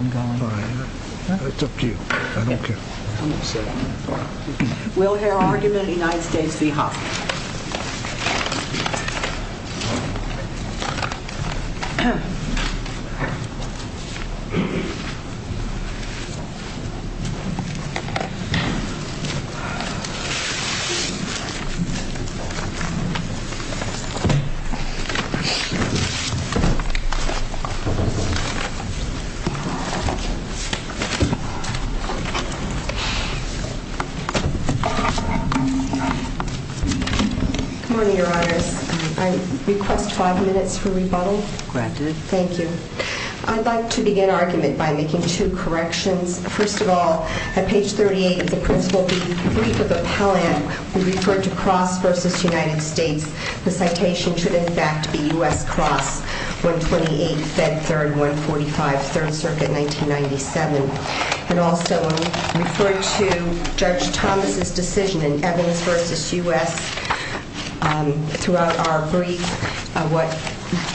It's up to you. I don't care. We'll hear argument in the United States v. Hoffman. Good morning, your honors. I request five minutes for rebuttal. Granted. Thank you. I'd like to begin argument by making two corrections. First of all, at page 38 of the principal brief of appellant, we referred to Cross v. United States. The citation should, in fact, be U.S. Cross 128, Fed 3rd, 145, 3rd Circuit, 1997. And also, we referred to Judge Thomas' decision in Evans v. U.S. throughout our brief.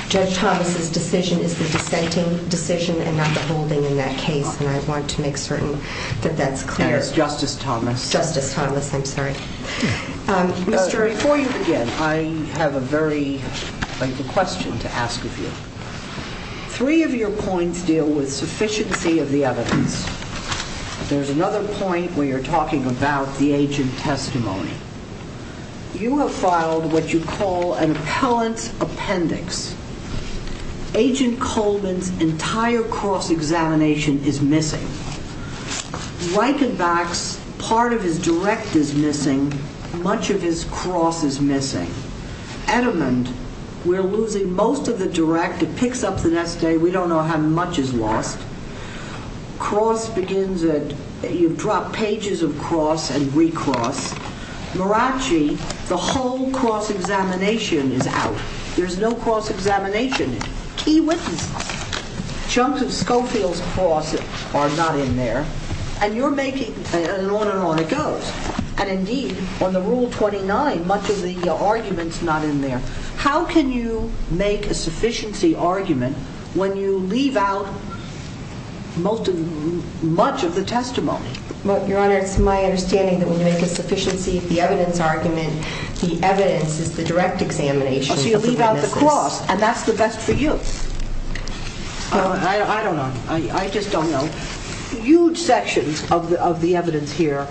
Judge Thomas' decision is the dissenting decision and not the holding in that case. And I want to make certain that that's clear. Justice Thomas. Justice Thomas, I'm sorry. Before you begin, I have a very lengthy question to ask of you. Three of your points deal with sufficiency of the evidence. There's another point where you're talking about the agent testimony. You have filed what you call an appellant appendix. Agent Coleman's entire cross-examination is missing. Reichenbach's part of his direct is missing. Much of his cross is missing. Edmund, we're losing most of the direct. It picks up the next day. We don't know how much is lost. Cross begins at—you've dropped pages of cross and re-cross. Maraci, the whole cross-examination is out. There's no cross-examination. Key witnesses. Chunks of Schofield's cross are not in there. And you're making—and on and on it goes. And, indeed, on the Rule 29, much of the argument's not in there. How can you make a sufficiency argument when you leave out much of the testimony? Your Honor, it's my understanding that when you make a sufficiency of the evidence argument, the evidence is the direct examination of the witnesses. The cross, and that's the best for you. I don't know. I just don't know. Huge sections of the evidence here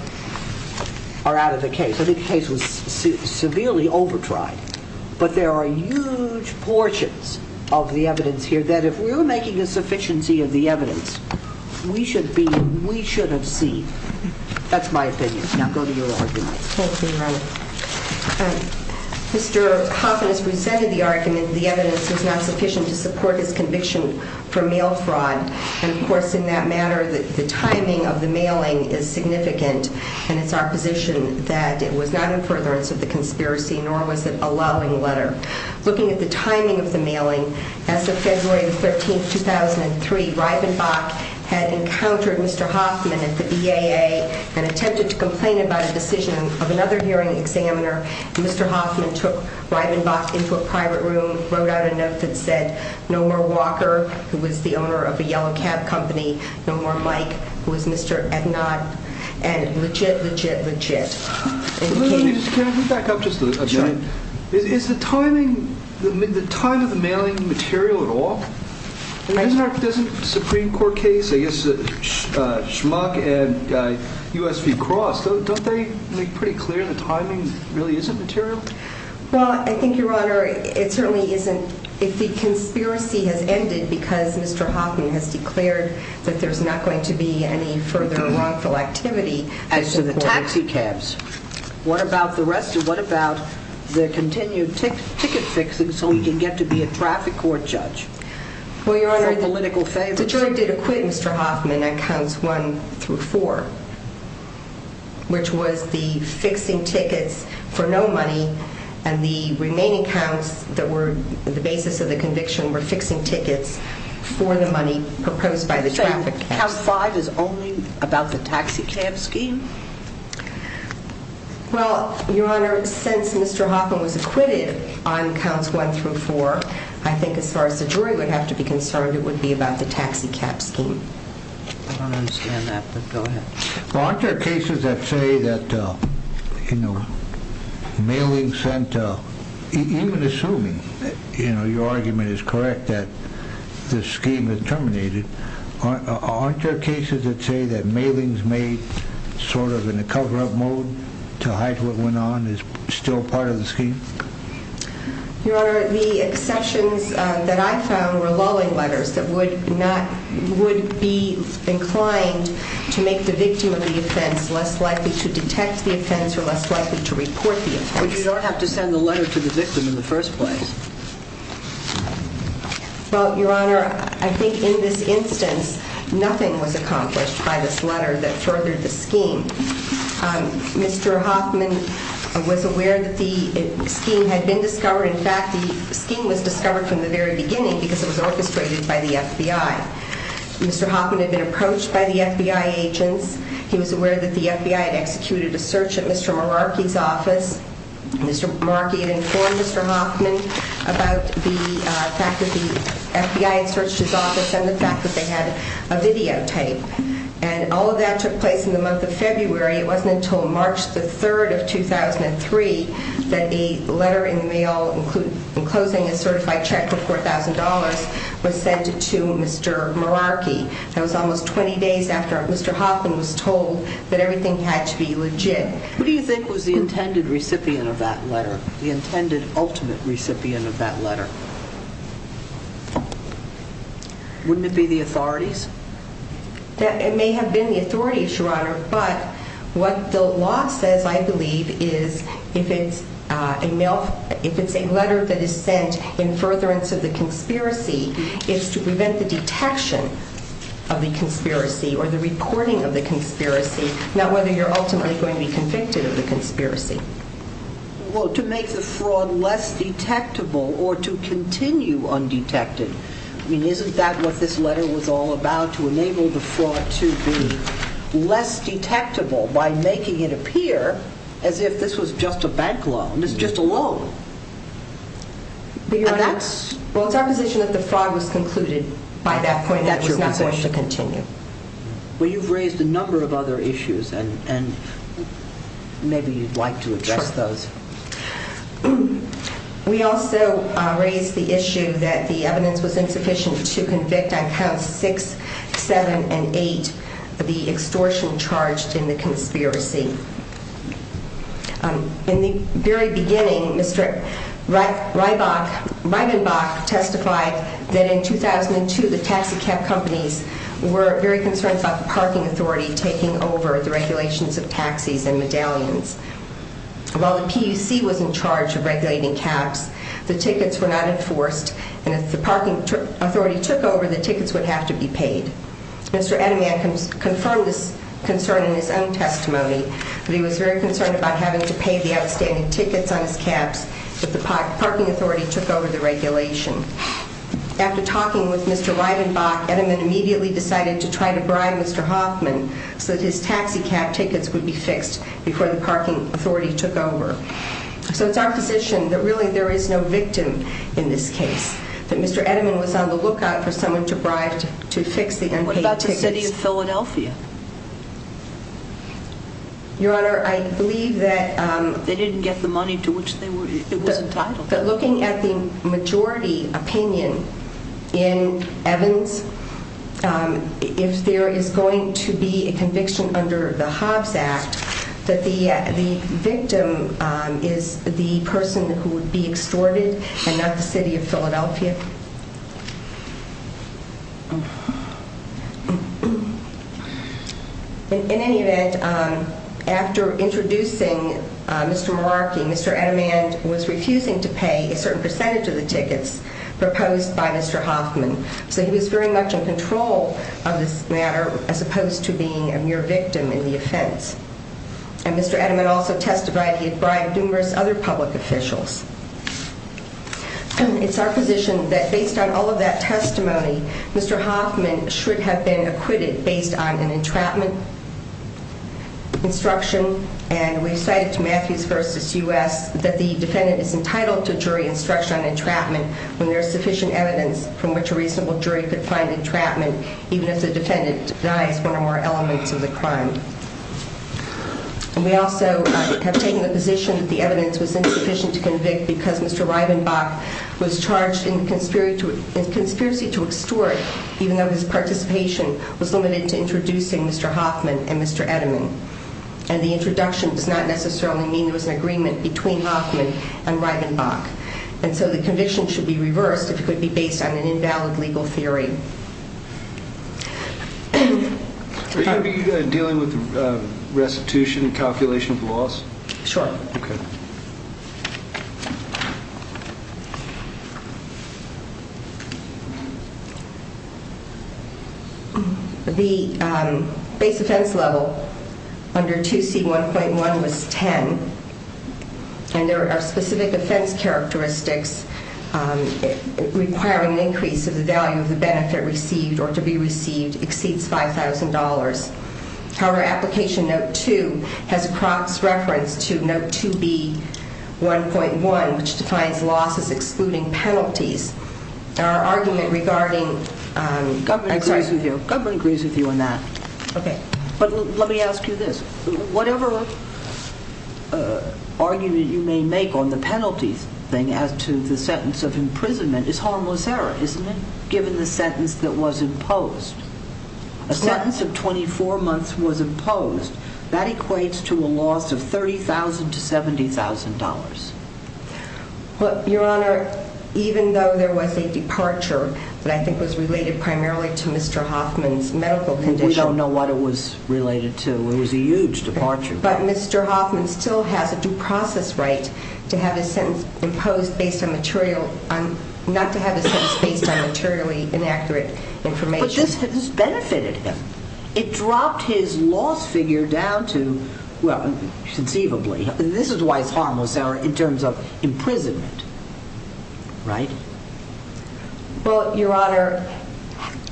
are out of the case. I think the case was severely over-tried. But there are huge portions of the evidence here that if we were making a sufficiency of the evidence, we should have seen. Now go to your argument. Thank you, Your Honor. Mr. Hoffman has presented the argument that the evidence is not sufficient to support his conviction for mail fraud. And, of course, in that matter, the timing of the mailing is significant. And it's our position that it was not in furtherance of the conspiracy, nor was it allowing letter. Looking at the timing of the mailing, as of February 13, 2003, Reibenbach had encountered Mr. Hoffman at the EAA and attempted to complain about a decision of another hearing examiner. Mr. Hoffman took Reibenbach into a private room, wrote out a note that said, No more Walker, who was the owner of a yellow cab company. No more Mike, who was Mr. Ednott. And legit, legit, legit. Can I just back up just a bit? Sure. Is the timing, the timing of the mailing material at all? Doesn't Supreme Court case, I guess, Schmuck and U.S. v. Cross, don't they make pretty clear the timing really isn't material? Well, I think, Your Honor, it certainly isn't. If the conspiracy has ended because Mr. Hoffman has declared that there's not going to be any further wrongful activity as to the taxi cabs, what about the rest of, what about the continued ticket fixing so he can get to be a traffic court judge? Well, Your Honor, the jury did acquit Mr. Hoffman on counts one through four, which was the fixing tickets for no money and the remaining counts that were the basis of the conviction were fixing tickets for the money proposed by the traffic. So count five is only about the taxi cab scheme? Well, Your Honor, since Mr. Hoffman was acquitted on counts one through four, I think as far as the jury would have to be concerned, it would be about the taxi cab scheme. I don't understand that, but go ahead. Well, aren't there cases that say that, you know, mailing sent, even assuming, you know, your argument is correct that the scheme is terminated, aren't there cases that say that mailings made sort of in a cover-up mode to hide what went on is still part of the scheme? Your Honor, the exceptions that I found were lulling letters that would be inclined to make the victim of the offense less likely to detect the offense or less likely to report the offense. But you don't have to send the letter to the victim in the first place. Well, Your Honor, I think in this instance, nothing was accomplished by this letter that furthered the scheme. Mr. Hoffman was aware that the scheme had been discovered. In fact, the scheme was discovered from the very beginning because it was orchestrated by the FBI. Mr. Hoffman had been approached by the FBI agents. He was aware that the FBI had executed a search at Mr. Meraki's office. Mr. Meraki had informed Mr. Hoffman about the fact that the FBI had searched his office and the fact that they had a videotape. And all of that took place in the month of February. It wasn't until March the 3rd of 2003 that a letter in the mail enclosing a certified check for $4,000 was sent to Mr. Meraki. That was almost 20 days after Mr. Hoffman was told that everything had to be legit. Who do you think was the intended recipient of that letter, the intended ultimate recipient of that letter? Wouldn't it be the authorities? It may have been the authorities, Your Honor. But what the law says, I believe, is if it's a letter that is sent in furtherance of the conspiracy, it's to prevent the detection of the conspiracy or the reporting of the conspiracy. Not whether you're ultimately going to be convicted of the conspiracy. Well, to make the fraud less detectable or to continue undetected. I mean, isn't that what this letter was all about, to enable the fraud to be less detectable by making it appear as if this was just a bank loan? It's just a loan. Well, it's our position that the fraud was concluded by that point and it was not going to continue. Well, you've raised a number of other issues, and maybe you'd like to address those. Sure. We also raised the issue that the evidence was insufficient to convict on Counts 6, 7, and 8 the extortion charged in the conspiracy. In the very beginning, Mr. Reibenbach testified that in 2002 the taxi cab companies were very concerned about the parking authority taking over the regulations of taxis and medallions. While the PUC was in charge of regulating cabs, the tickets were not enforced, and if the parking authority took over, the tickets would have to be paid. Mr. Edelman confirmed this concern in his own testimony, but he was very concerned about having to pay the outstanding tickets on his cabs if the parking authority took over the regulation. After talking with Mr. Reibenbach, Edelman immediately decided to try to bribe Mr. Hoffman so that his taxi cab tickets would be fixed before the parking authority took over. So it's our position that really there is no victim in this case, that Mr. Edelman was on the lookout for someone to bribe to fix the unpaid tickets. What about the city of Philadelphia? Your Honor, I believe that... They didn't get the money to which it was entitled. But looking at the majority opinion in Evans, if there is going to be a conviction under the Hobbs Act that the victim is the person who would be extorted and not the city of Philadelphia? In any event, after introducing Mr. Meraki, Mr. Edelman was refusing to pay a certain percentage of the tickets proposed by Mr. Hoffman. So he was very much in control of this matter as opposed to being a mere victim in the offense. And Mr. Edelman also testified he had bribed numerous other public officials. It's our position that based on all of that testimony, Mr. Hoffman should have been acquitted based on an entrapment instruction. And we cited to Matthews v. U.S. that the defendant is entitled to jury instruction on entrapment when there is sufficient evidence from which a reasonable jury could find entrapment even if the defendant denies one or more elements of the crime. And we also have taken the position that the evidence was insufficient to convict because Mr. Reibenbach was charged in conspiracy to extort even though his participation was limited to introducing Mr. Hoffman and Mr. Edelman. And the introduction does not necessarily mean there was an agreement between Hoffman and Reibenbach. And so the conviction should be reversed if it could be based on an invalid legal theory. Are you going to be dealing with restitution and calculation of loss? Sure. Okay. The base offense level under 2C1.1 was 10. And there are specific offense characteristics requiring an increase of the value of the benefit received or to be received exceeds $5,000. However, application note 2 has Croc's reference to note 2B1.1 which defines losses excluding penalties. Our argument regarding... Government agrees with you on that. Okay. But let me ask you this. Whatever argument you may make on the penalties thing as to the sentence of imprisonment is harmless error, isn't it, given the sentence that was imposed? A sentence of 24 months was imposed. That equates to a loss of $30,000 to $70,000. Your Honor, even though there was a departure that I think was related primarily to Mr. Hoffman's medical condition... We don't know what it was related to. It was a huge departure. But Mr. Hoffman still has a due process right to have a sentence imposed based on material... Not to have a sentence based on materially inaccurate information. But this benefited him. It dropped his loss figure down to, well, conceivably. This is why it's harmless error in terms of imprisonment. Right? Well, Your Honor,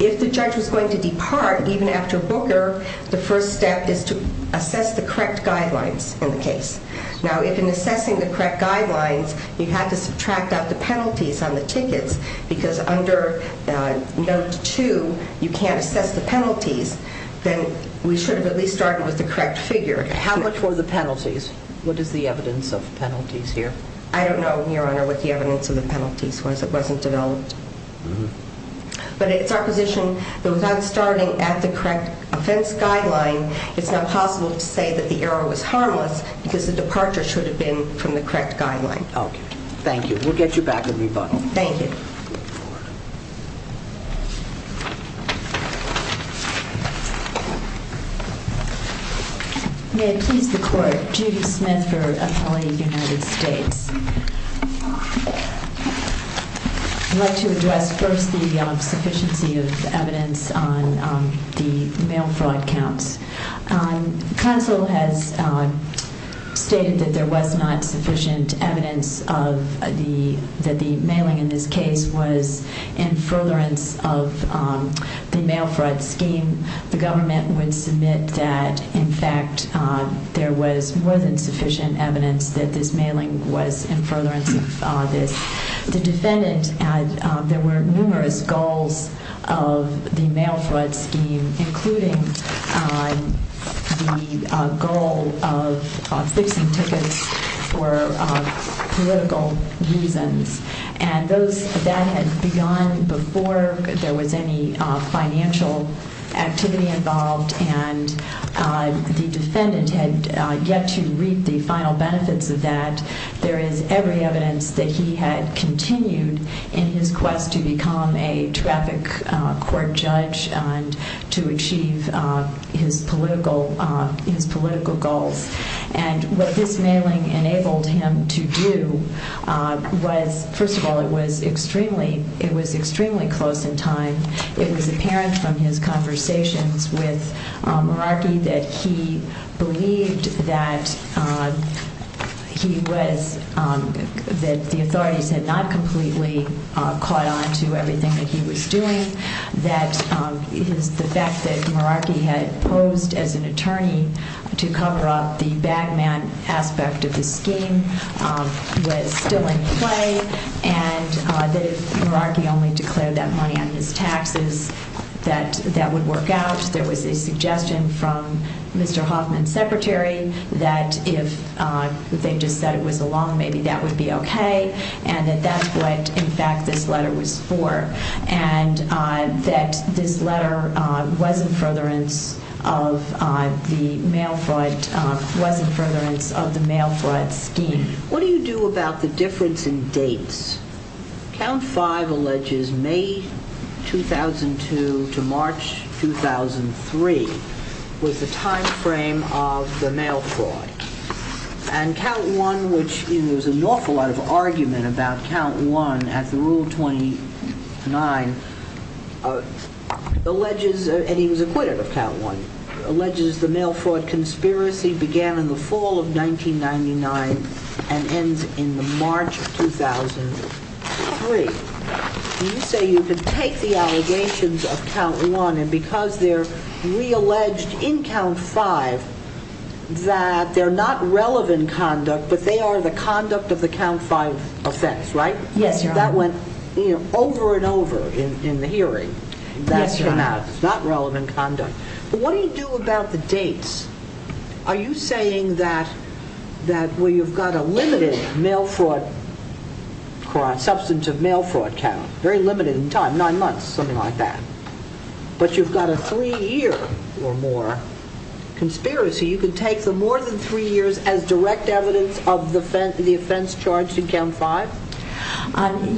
if the judge was going to depart, even after Booker, the first step is to assess the correct guidelines in the case. Now, if in assessing the correct guidelines, you had to subtract out the penalties on the tickets, because under Note 2, you can't assess the penalties, then we should have at least started with the correct figure. How much were the penalties? What is the evidence of penalties here? I don't know, Your Honor, what the evidence of the penalties was. It wasn't developed. But it's our position that without starting at the correct offense guideline, it's not possible to say that the error was harmless, because the departure should have been from the correct guideline. Okay. Thank you. We'll get you back with rebuttal. Thank you. May it please the Court, Judy Smith for an appellee of the United States. I'd like to address first the sufficiency of evidence on the mail fraud counts. Counsel has stated that there was not sufficient evidence that the mailing in this case was in furtherance of the mail fraud scheme. The government would submit that, in fact, there was more than sufficient evidence that this mailing was in furtherance of this. The defendant, there were numerous goals of the mail fraud scheme, including the goal of fixing tickets for political reasons. And that had begun before there was any financial activity involved, and the defendant had yet to reap the final benefits of that. There is every evidence that he had continued in his quest to become a traffic court judge and to achieve his political goals. And what this mailing enabled him to do was, first of all, it was extremely close in time. It was apparent from his conversations with Meraki that he believed that he was, that the authorities had not completely caught on to everything that he was doing. That the fact that Meraki had posed as an attorney to cover up the bag man aspect of the scheme was still in play. And that if Meraki only declared that money on his taxes, that that would work out. There was a suggestion from Mr. Hoffman's secretary that if they just said it was a loan, maybe that would be okay. And that that's what, in fact, this letter was for. And that this letter was in furtherance of the mail fraud scheme. What do you do about the difference in dates? Count 5 alleges May 2002 to March 2003 was the time frame of the mail fraud. And Count 1, which there was an awful lot of argument about Count 1 at the Rule 29, alleges, and he was acquitted of Count 1, alleges the mail fraud conspiracy began in the fall of 1999 and ends in the March of 2003. You say you can take the allegations of Count 1, and because they're re-alleged in Count 5, that they're not relevant conduct, but they are the conduct of the Count 5 offense, right? Yes, Your Honor. That went over and over in the hearing. Yes, Your Honor. That's not relevant conduct. But what do you do about the dates? Are you saying that where you've got a limited mail fraud crime, substantive mail fraud count, very limited in time, nine months, something like that, but you've got a three year or more conspiracy, you can take the more than three years as direct evidence of the offense charged in Count 5?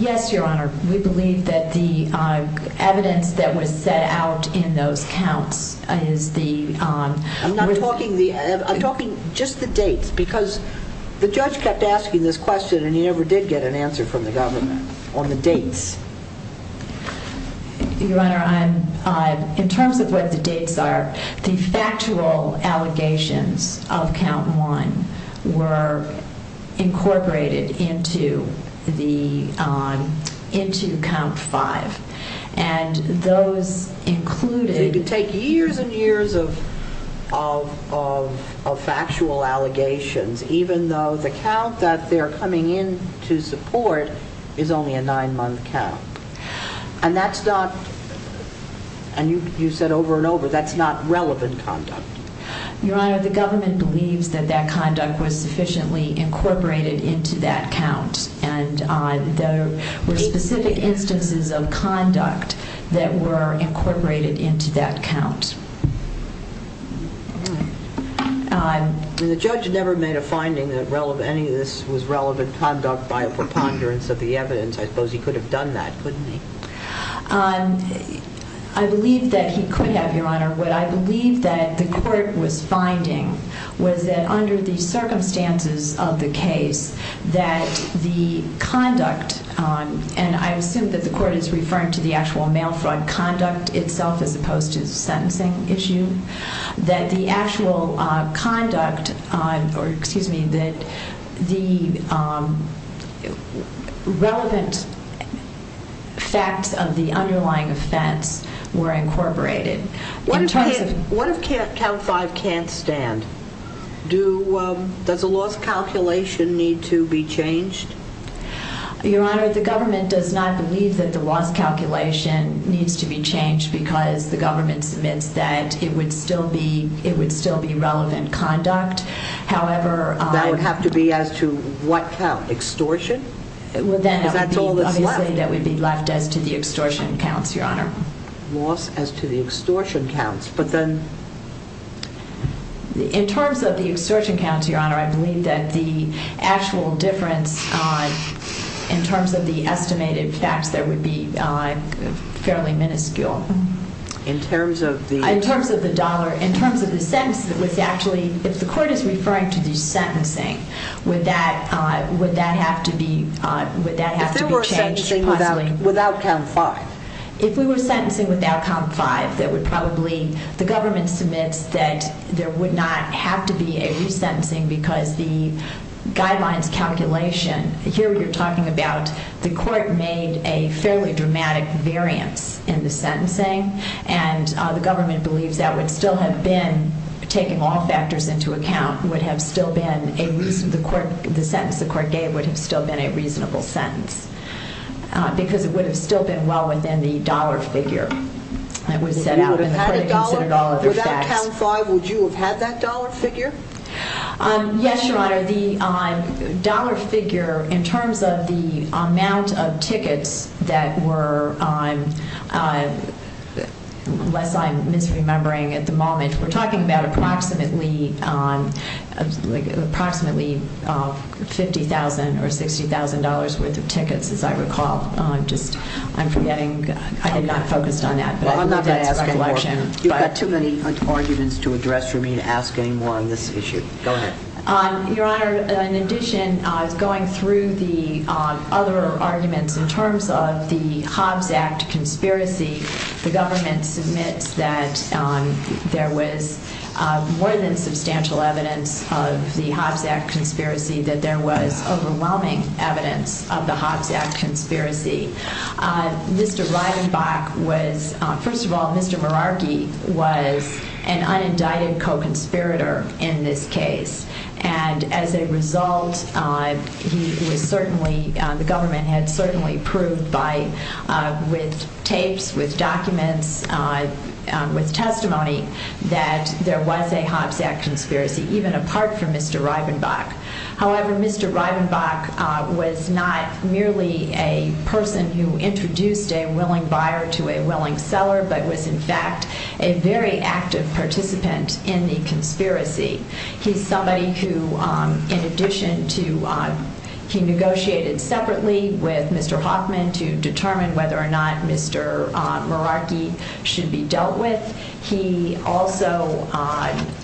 Yes, Your Honor. We believe that the evidence that was set out in those counts is the... I'm not talking the... I'm talking just the dates, because the judge kept asking this question and he never did get an answer from the government on the dates. Your Honor, in terms of what the dates are, the factual allegations of Count 1 were incorporated into Count 5, and those included... They take years and years of factual allegations, even though the count that they're coming in to support is only a nine month count. And that's not, and you said over and over, that's not relevant conduct. Your Honor, the government believes that that conduct was sufficiently incorporated into that count, and there were specific instances of conduct that were incorporated into that count. The judge never made a finding that any of this was relevant conduct for ponderance of the evidence. I suppose he could have done that, couldn't he? I believe that he could have, Your Honor. What I believe that the court was finding was that under the circumstances of the case, that the conduct, and I assume that the court is referring to the actual mail fraud conduct itself as opposed to the sentencing issue, that the actual conduct, or excuse me, that the relevant facts of the underlying offense were incorporated. What if Count 5 can't stand? Does a loss calculation need to be changed? Your Honor, the government does not believe that the loss calculation needs to be changed because the government submits that it would still be relevant conduct. However... That would have to be as to what count? Extortion? Because that's all that's left. Obviously, that would be left as to the extortion counts, Your Honor. Loss as to the extortion counts, but then... In terms of the extortion counts, Your Honor, I believe that the actual difference in terms of the estimated facts there would be fairly minuscule. In terms of the... In terms of the dollar, in terms of the sentence that was actually, if the court is referring to the sentencing, would that have to be changed? If there were a sentencing without Count 5? If we were sentencing without Count 5, that would probably... The government submits that there would not have to be a resentencing because the guidelines calculation... Here, you're talking about the court made a fairly dramatic variance in the sentencing. And the government believes that would still have been, taking all factors into account, would have still been a reasonable... The sentence the court gave would have still been a reasonable sentence. Because it would have still been well within the dollar figure that was set out. Without Count 5, would you have had that dollar figure? Yes, Your Honor. The dollar figure, in terms of the amount of tickets that were, unless I'm misremembering at the moment, we're talking about approximately $50,000 or $60,000 worth of tickets, as I recall. I'm forgetting. I'm not focused on that. I'm not going to ask any more. You've got too many arguments to address for me to ask any more on this issue. Go ahead. Your Honor, in addition, going through the other arguments in terms of the Hobbs Act conspiracy, the government submits that there was more than substantial evidence of the Hobbs Act conspiracy, that there was overwhelming evidence of the Hobbs Act conspiracy. Mr. Reidenbach was, first of all, Mr. Meraki was an unindicted co-conspirator in this case. As a result, the government had certainly proved with tapes, with documents, with testimony, that there was a Hobbs Act conspiracy, even apart from Mr. Reidenbach. However, Mr. Reidenbach was not merely a person who introduced a willing buyer to a willing seller, but was, in fact, a very active participant in the conspiracy. He's somebody who, in addition to, he negotiated separately with Mr. Hoffman to determine whether or not Mr. Meraki should be dealt with. He also,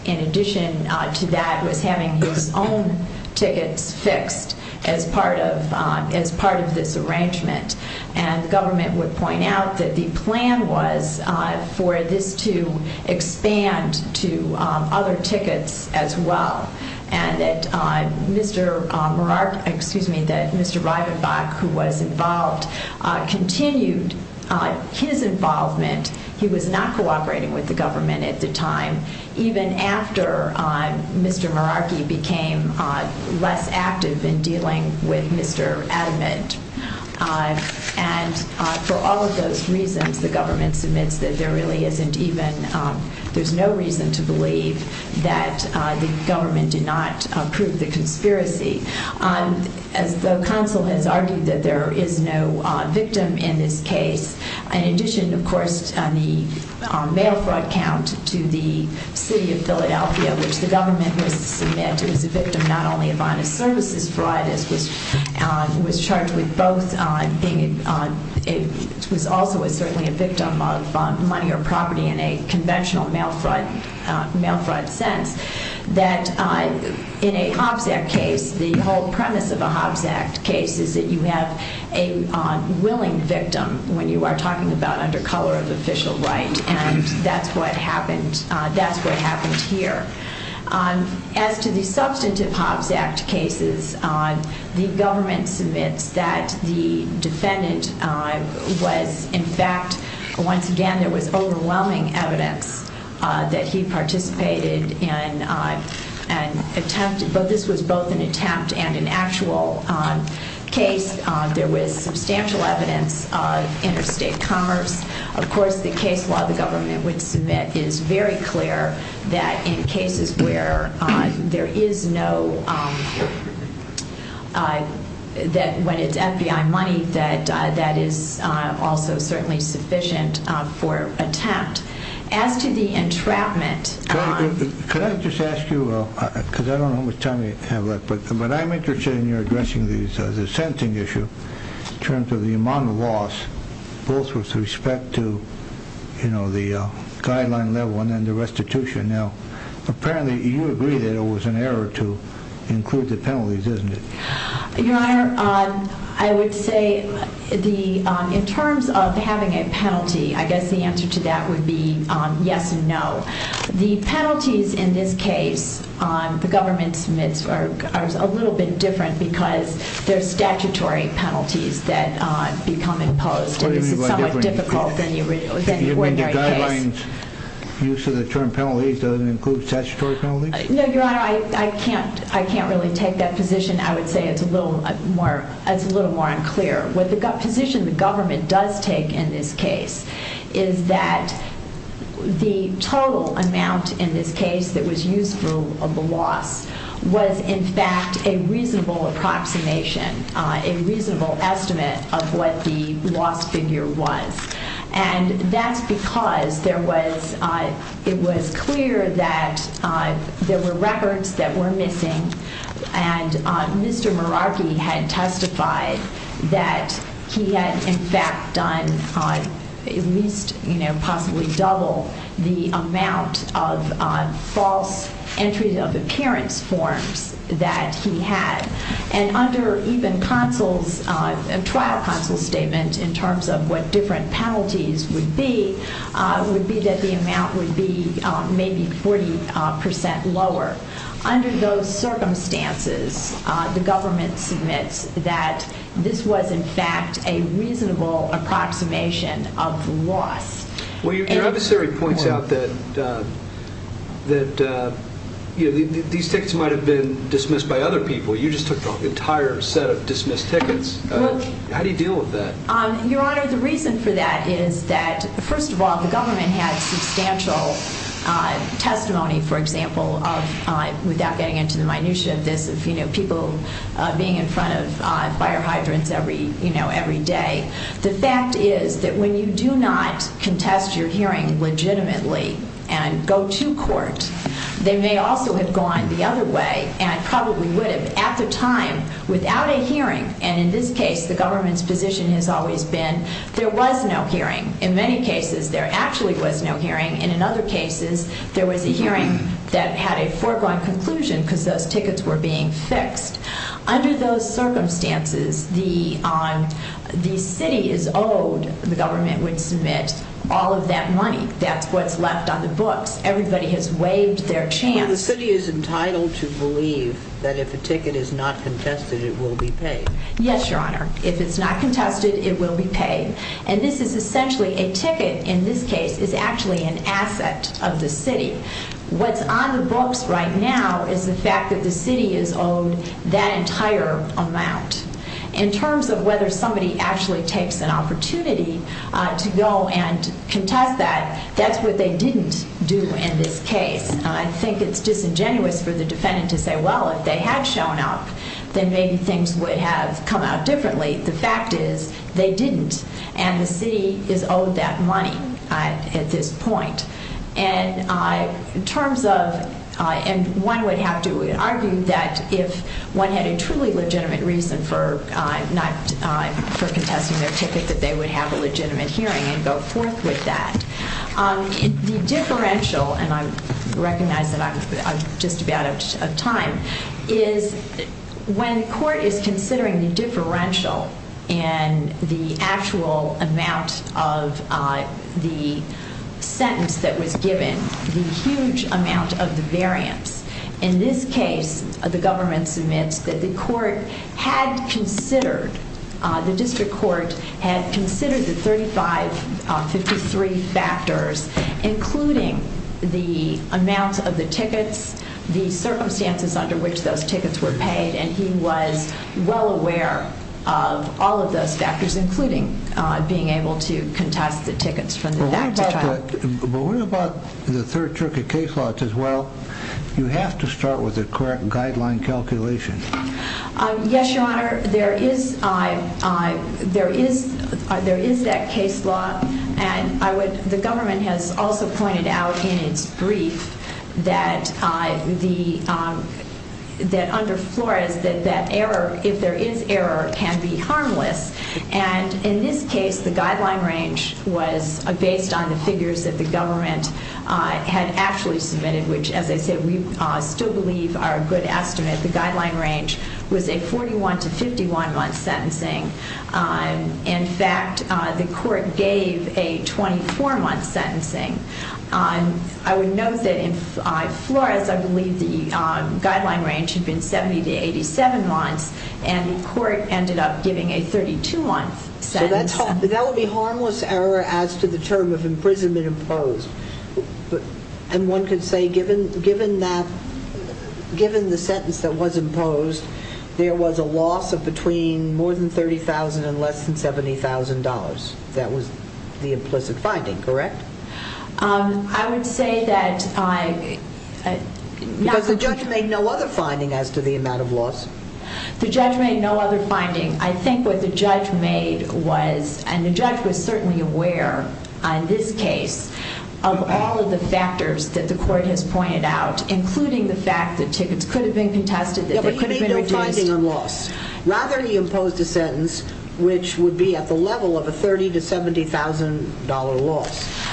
in addition to that, was having his own tickets fixed as part of this arrangement. And the government would point out that the plan was for this to expand to other tickets as well, and that Mr. Meraki, excuse me, that Mr. Reidenbach, who was involved, continued his involvement. He was not cooperating with the government at the time, even after Mr. Meraki became less active in dealing with Mr. Edmund. And for all of those reasons, the government submits that there really isn't even, there's no reason to believe that the government did not prove the conspiracy. As though counsel has argued that there is no victim in this case. In addition, of course, the mail fraud count to the city of Philadelphia, which the government was to submit, it was a victim not only of honest services fraud, which was charged with both being, it was also certainly a victim of money or property in a conventional mail fraud sense, that in a Hobbs Act case, the whole premise of a Hobbs Act case is that you have a willing victim when you are talking about under color of official right, and that's what happened here. As to the substantive Hobbs Act cases, the government submits that the defendant was, in fact, once again, there was overwhelming evidence that he participated in an attempt, but this was both an attempt and an actual case. There was substantial evidence of interstate commerce. Of course, the case law the government would submit is very clear that in cases where there is no, that when it's FBI money, that is also certainly sufficient for attempt. As to the entrapment. Can I just ask you, because I don't know how much time we have left, but I'm interested in your addressing the sentencing issue in terms of the amount of loss, both with respect to the guideline level and then the restitution. Now, apparently you agree that it was an error to include the penalties, isn't it? Your Honor, I would say in terms of having a penalty, I guess the answer to that would be yes and no. The penalties in this case, the government submits are a little bit different because they're statutory penalties that become imposed, and this is somewhat difficult than with any ordinary case. You mean the guidelines use of the term penalties doesn't include statutory penalties? No, Your Honor, I can't really take that position. I would say it's a little more unclear. What the position the government does take in this case is that the total amount in this case that was used for the loss was, in fact, a reasonable approximation, a reasonable estimate of what the loss figure was. And that's because it was clear that there were records that were missing, and Mr. Meraki had testified that he had, in fact, done at least, you know, possibly double the amount of false entries of appearance forms that he had. And under even consul's, trial consul's statement in terms of what different penalties would be, would be that the amount would be maybe 40% lower. Under those circumstances, the government submits that this was, in fact, a reasonable approximation of the loss. Well, your adversary points out that these tickets might have been dismissed by other people. You just took the entire set of dismissed tickets. How do you deal with that? Your Honor, the reason for that is that, first of all, the government had substantial testimony, for example, without getting into the minutia of this, of people being in front of fire hydrants every day. The fact is that when you do not contest your hearing legitimately and go to court, they may also have gone the other way and probably would have at the time without a hearing. And in this case, the government's position has always been there was no hearing. In many cases, there actually was no hearing. And in other cases, there was a hearing that had a foregone conclusion because those tickets were being fixed. Under those circumstances, the city is owed, the government would submit, all of that money. That's what's left on the books. Everybody has waived their chance. Well, the city is entitled to believe that if a ticket is not contested, it will be paid. Yes, Your Honor. If it's not contested, it will be paid. And this is essentially a ticket, in this case, is actually an asset of the city. What's on the books right now is the fact that the city is owed that entire amount. In terms of whether somebody actually takes an opportunity to go and contest that, that's what they didn't do in this case. I think it's disingenuous for the defendant to say, well, if they had shown up, then maybe things would have come out differently. The fact is they didn't, and the city is owed that money at this point. And one would have to argue that if one had a truly legitimate reason for not contesting their ticket, that they would have a legitimate hearing and go forth with that. The differential, and I recognize that I'm just about out of time, is when the court is considering the differential in the actual amount of the sentence that was given, the huge amount of the variance. In this case, the government submits that the court had considered, the district court had considered the 3553 factors, including the amount of the tickets, the circumstances under which those tickets were paid, and he was well aware of all of those factors, including being able to contest the tickets from the act to trial. But what about the third circuit case law? It says, well, you have to start with a correct guideline calculation. Yes, Your Honor. There is that case law, and the government has also pointed out in its brief that under Flores, that error, if there is error, can be harmless. And in this case, the guideline range was based on the figures that the government had actually submitted, which, as I said, we still believe are a good estimate. The guideline range was a 41 to 51-month sentencing. In fact, the court gave a 24-month sentencing. I would note that in Flores, I believe the guideline range had been 70 to 87 months, and the court ended up giving a 32-month sentence. So that would be harmless error as to the term of imprisonment imposed. And one could say, given the sentence that was imposed, there was a loss of between more than $30,000 and less than $70,000. That was the implicit finding, correct? I would say that I... Because the judge made no other finding as to the amount of loss. The judge made no other finding. I think what the judge made was, and the judge was certainly aware on this case, of all of the factors that the court has pointed out, including the fact that tickets could have been contested, that they could have been reduced. Yeah, but he made no finding on loss. Rather, he imposed a sentence which would be at the level of a $30,000 to $70,000 loss.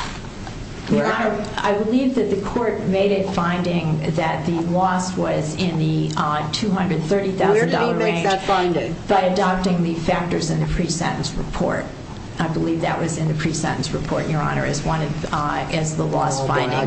Your Honor, I believe that the court made a finding that the loss was in the $230,000 range. Where did he make that finding? By adopting the factors in the pre-sentence report. I believe that was in the pre-sentence report, Your Honor, as the loss finding.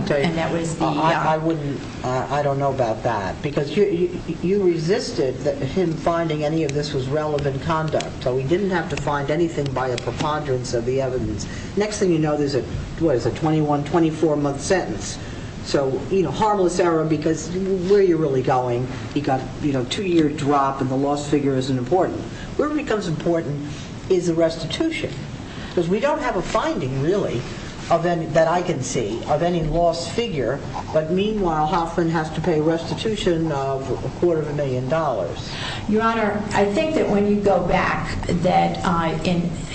I don't know about that. Because you resisted him finding any of this was relevant conduct. So he didn't have to find anything by a preponderance of the evidence. Next thing you know, there's a 21-, 24-month sentence. So, you know, harmless error because where are you really going? You've got a two-year drop and the loss figure isn't important. Where it becomes important is the restitution. Because we don't have a finding, really, that I can see of any loss figure. But meanwhile, Hoffman has to pay a restitution of a quarter of a million dollars. Your Honor, I think that when you go back that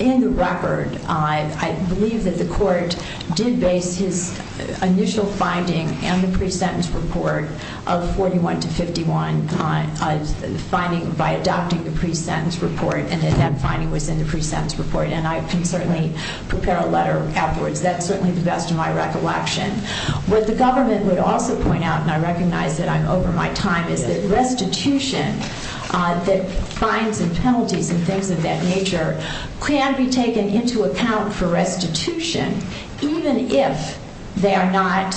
in the record, I believe that the court did base his initial finding and the pre-sentence report of 41 to 51 by adopting the pre-sentence report and that that finding was in the pre-sentence report. And I can certainly prepare a letter afterwards. That's certainly the best of my recollection. What the government would also point out, and I recognize that I'm over my time, is that restitution that fines and penalties and things of that nature can be taken into account for restitution even if they are not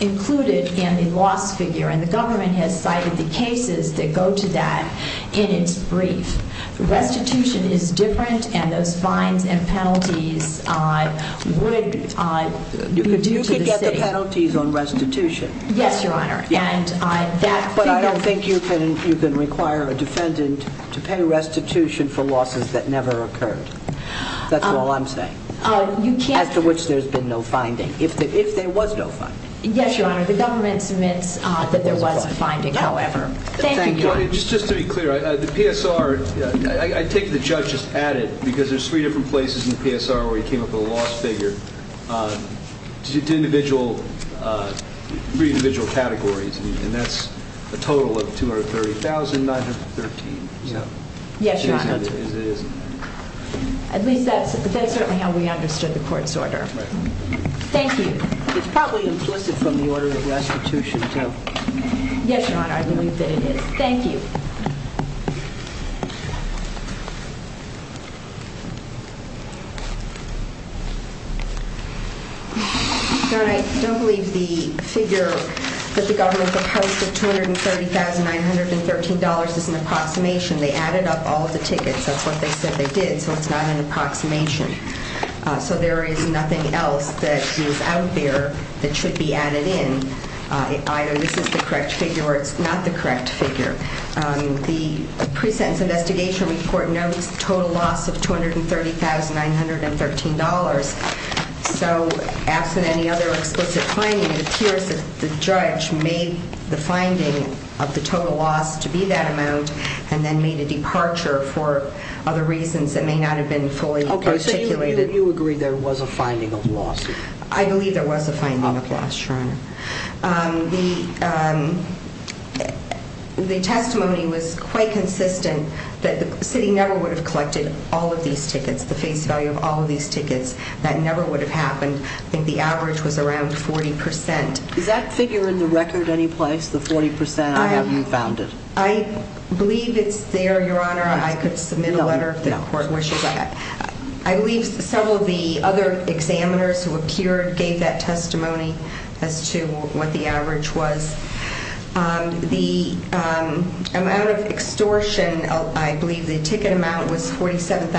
included in the loss figure. And the government has cited the cases that go to that in its brief. Restitution is different and those fines and penalties would be due to the state. You could get the penalties on restitution. Yes, Your Honor. But I don't think you can require a defendant to pay restitution for losses that never occurred. That's all I'm saying. As to which there's been no finding, if there was no finding. Yes, Your Honor. The government submits that there was a finding, however. Thank you. Just to be clear, the PSR, I take it the judge just added, because there's three different places in the PSR where he came up with a loss figure, to three individual categories, and that's a total of 230,913. Yes, Your Honor. At least that's certainly how we understood the court's order. Thank you. It's probably implicit from the order of restitution, too. Yes, Your Honor, I believe that it is. Thank you. Your Honor, I don't believe the figure that the government proposed of $230,913 is an approximation. They added up all of the tickets. That's what they said they did, so it's not an approximation. So there is nothing else that is out there that should be added in. Either this is the correct figure or it's not the correct figure. The pre-sentence investigation report notes total loss of $230,913. So, absent any other explicit finding, it appears that the judge made the finding of the total loss to be that amount and then made a departure for other reasons that may not have been fully articulated. Okay, so you agree there was a finding of loss? The testimony was quite consistent that the city never would have collected all of these tickets, the face value of all of these tickets. That never would have happened. I think the average was around 40%. Is that figure in the record anyplace, the 40% I have you found it? I believe it's there, Your Honor. I could submit a letter if the court wishes. I believe several of the other examiners who appeared gave that testimony as to what the average was. The amount of extortion, I believe the ticket amount was $47,000.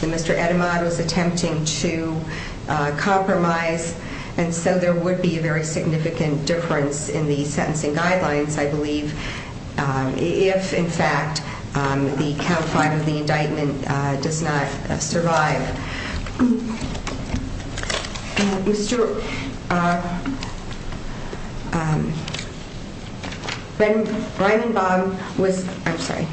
Mr. Etemad was attempting to compromise, and so there would be a very significant difference in the sentencing guidelines, I believe, if, in fact, the count five of the indictment does not survive. When Breimenbach was, I'm sorry,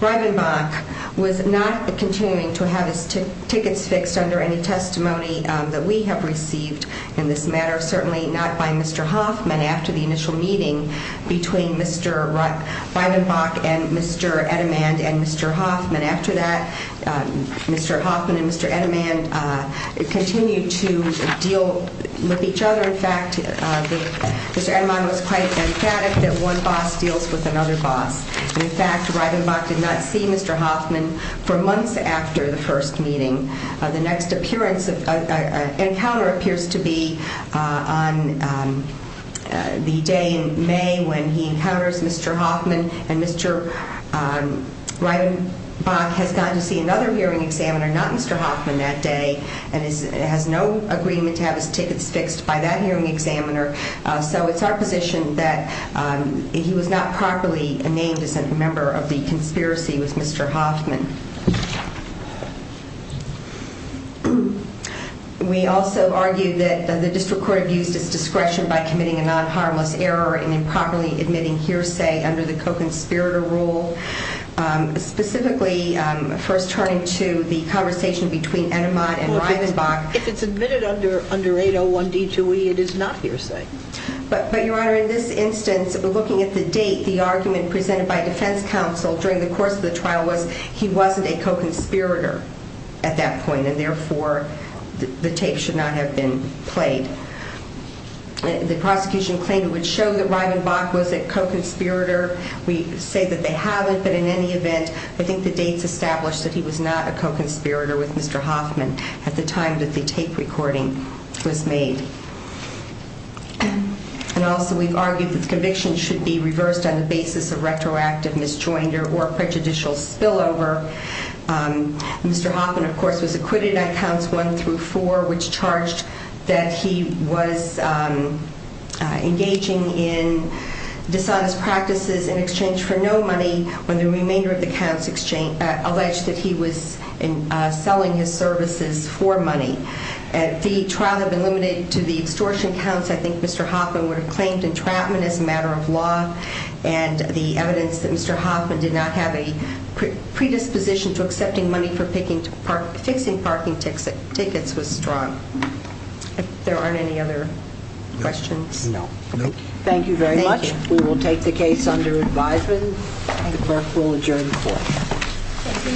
Breimenbach was not continuing to have his tickets fixed under any testimony that we have received in this matter, certainly not by Mr. Hoffman after the initial meeting between Mr. Breimenbach and Mr. Etemad and Mr. Hoffman. After that, Mr. Hoffman and Mr. Etemad continued to deal with each other. In fact, Mr. Etemad was quite emphatic that one boss deals with another boss. In fact, Breimenbach did not see Mr. Hoffman for months after the first meeting. The next appearance, encounter appears to be on the day in May when he encounters Mr. Hoffman, and Mr. Breimenbach has gotten to see another hearing examiner, not Mr. Hoffman that day, and has no agreement to have his tickets fixed by that hearing examiner. So it's our position that he was not properly named as a member of the conspiracy with Mr. Hoffman. We also argue that the district court abused its discretion by committing a non-harmless error in improperly admitting hearsay under the co-conspirator rule, specifically first turning to the conversation between Etemad and Breimenbach. If it's admitted under 801D2E, it is not hearsay. But, Your Honor, in this instance, looking at the date, the argument presented by defense counsel during the course of the trial was he wasn't a co-conspirator at that point, and therefore the tape should not have been played. The prosecution claimed it would show that Breimenbach was a co-conspirator. We say that they haven't, but in any event, I think the dates establish that he was not a co-conspirator with Mr. Hoffman at the time that the tape recording was made. And also we've argued that the conviction should be reversed on the basis of retroactive misjoinder or prejudicial spillover. Mr. Hoffman, of course, was acquitted on counts one through four, which charged that he was engaging in dishonest practices in exchange for no money when the remainder of the counts alleged that he was selling his services for money. If the trial had been limited to the extortion counts, I think Mr. Hoffman would have claimed entrapment as a matter of law, and the evidence that Mr. Hoffman did not have a predisposition to accepting money for fixing parking tickets was strong. If there aren't any other questions? No. Thank you very much. We will take the case under advisement. The clerk will adjourn the court. Thank you, Your Honor. The court stands adjourned until 11 p.m. for an advisory meeting.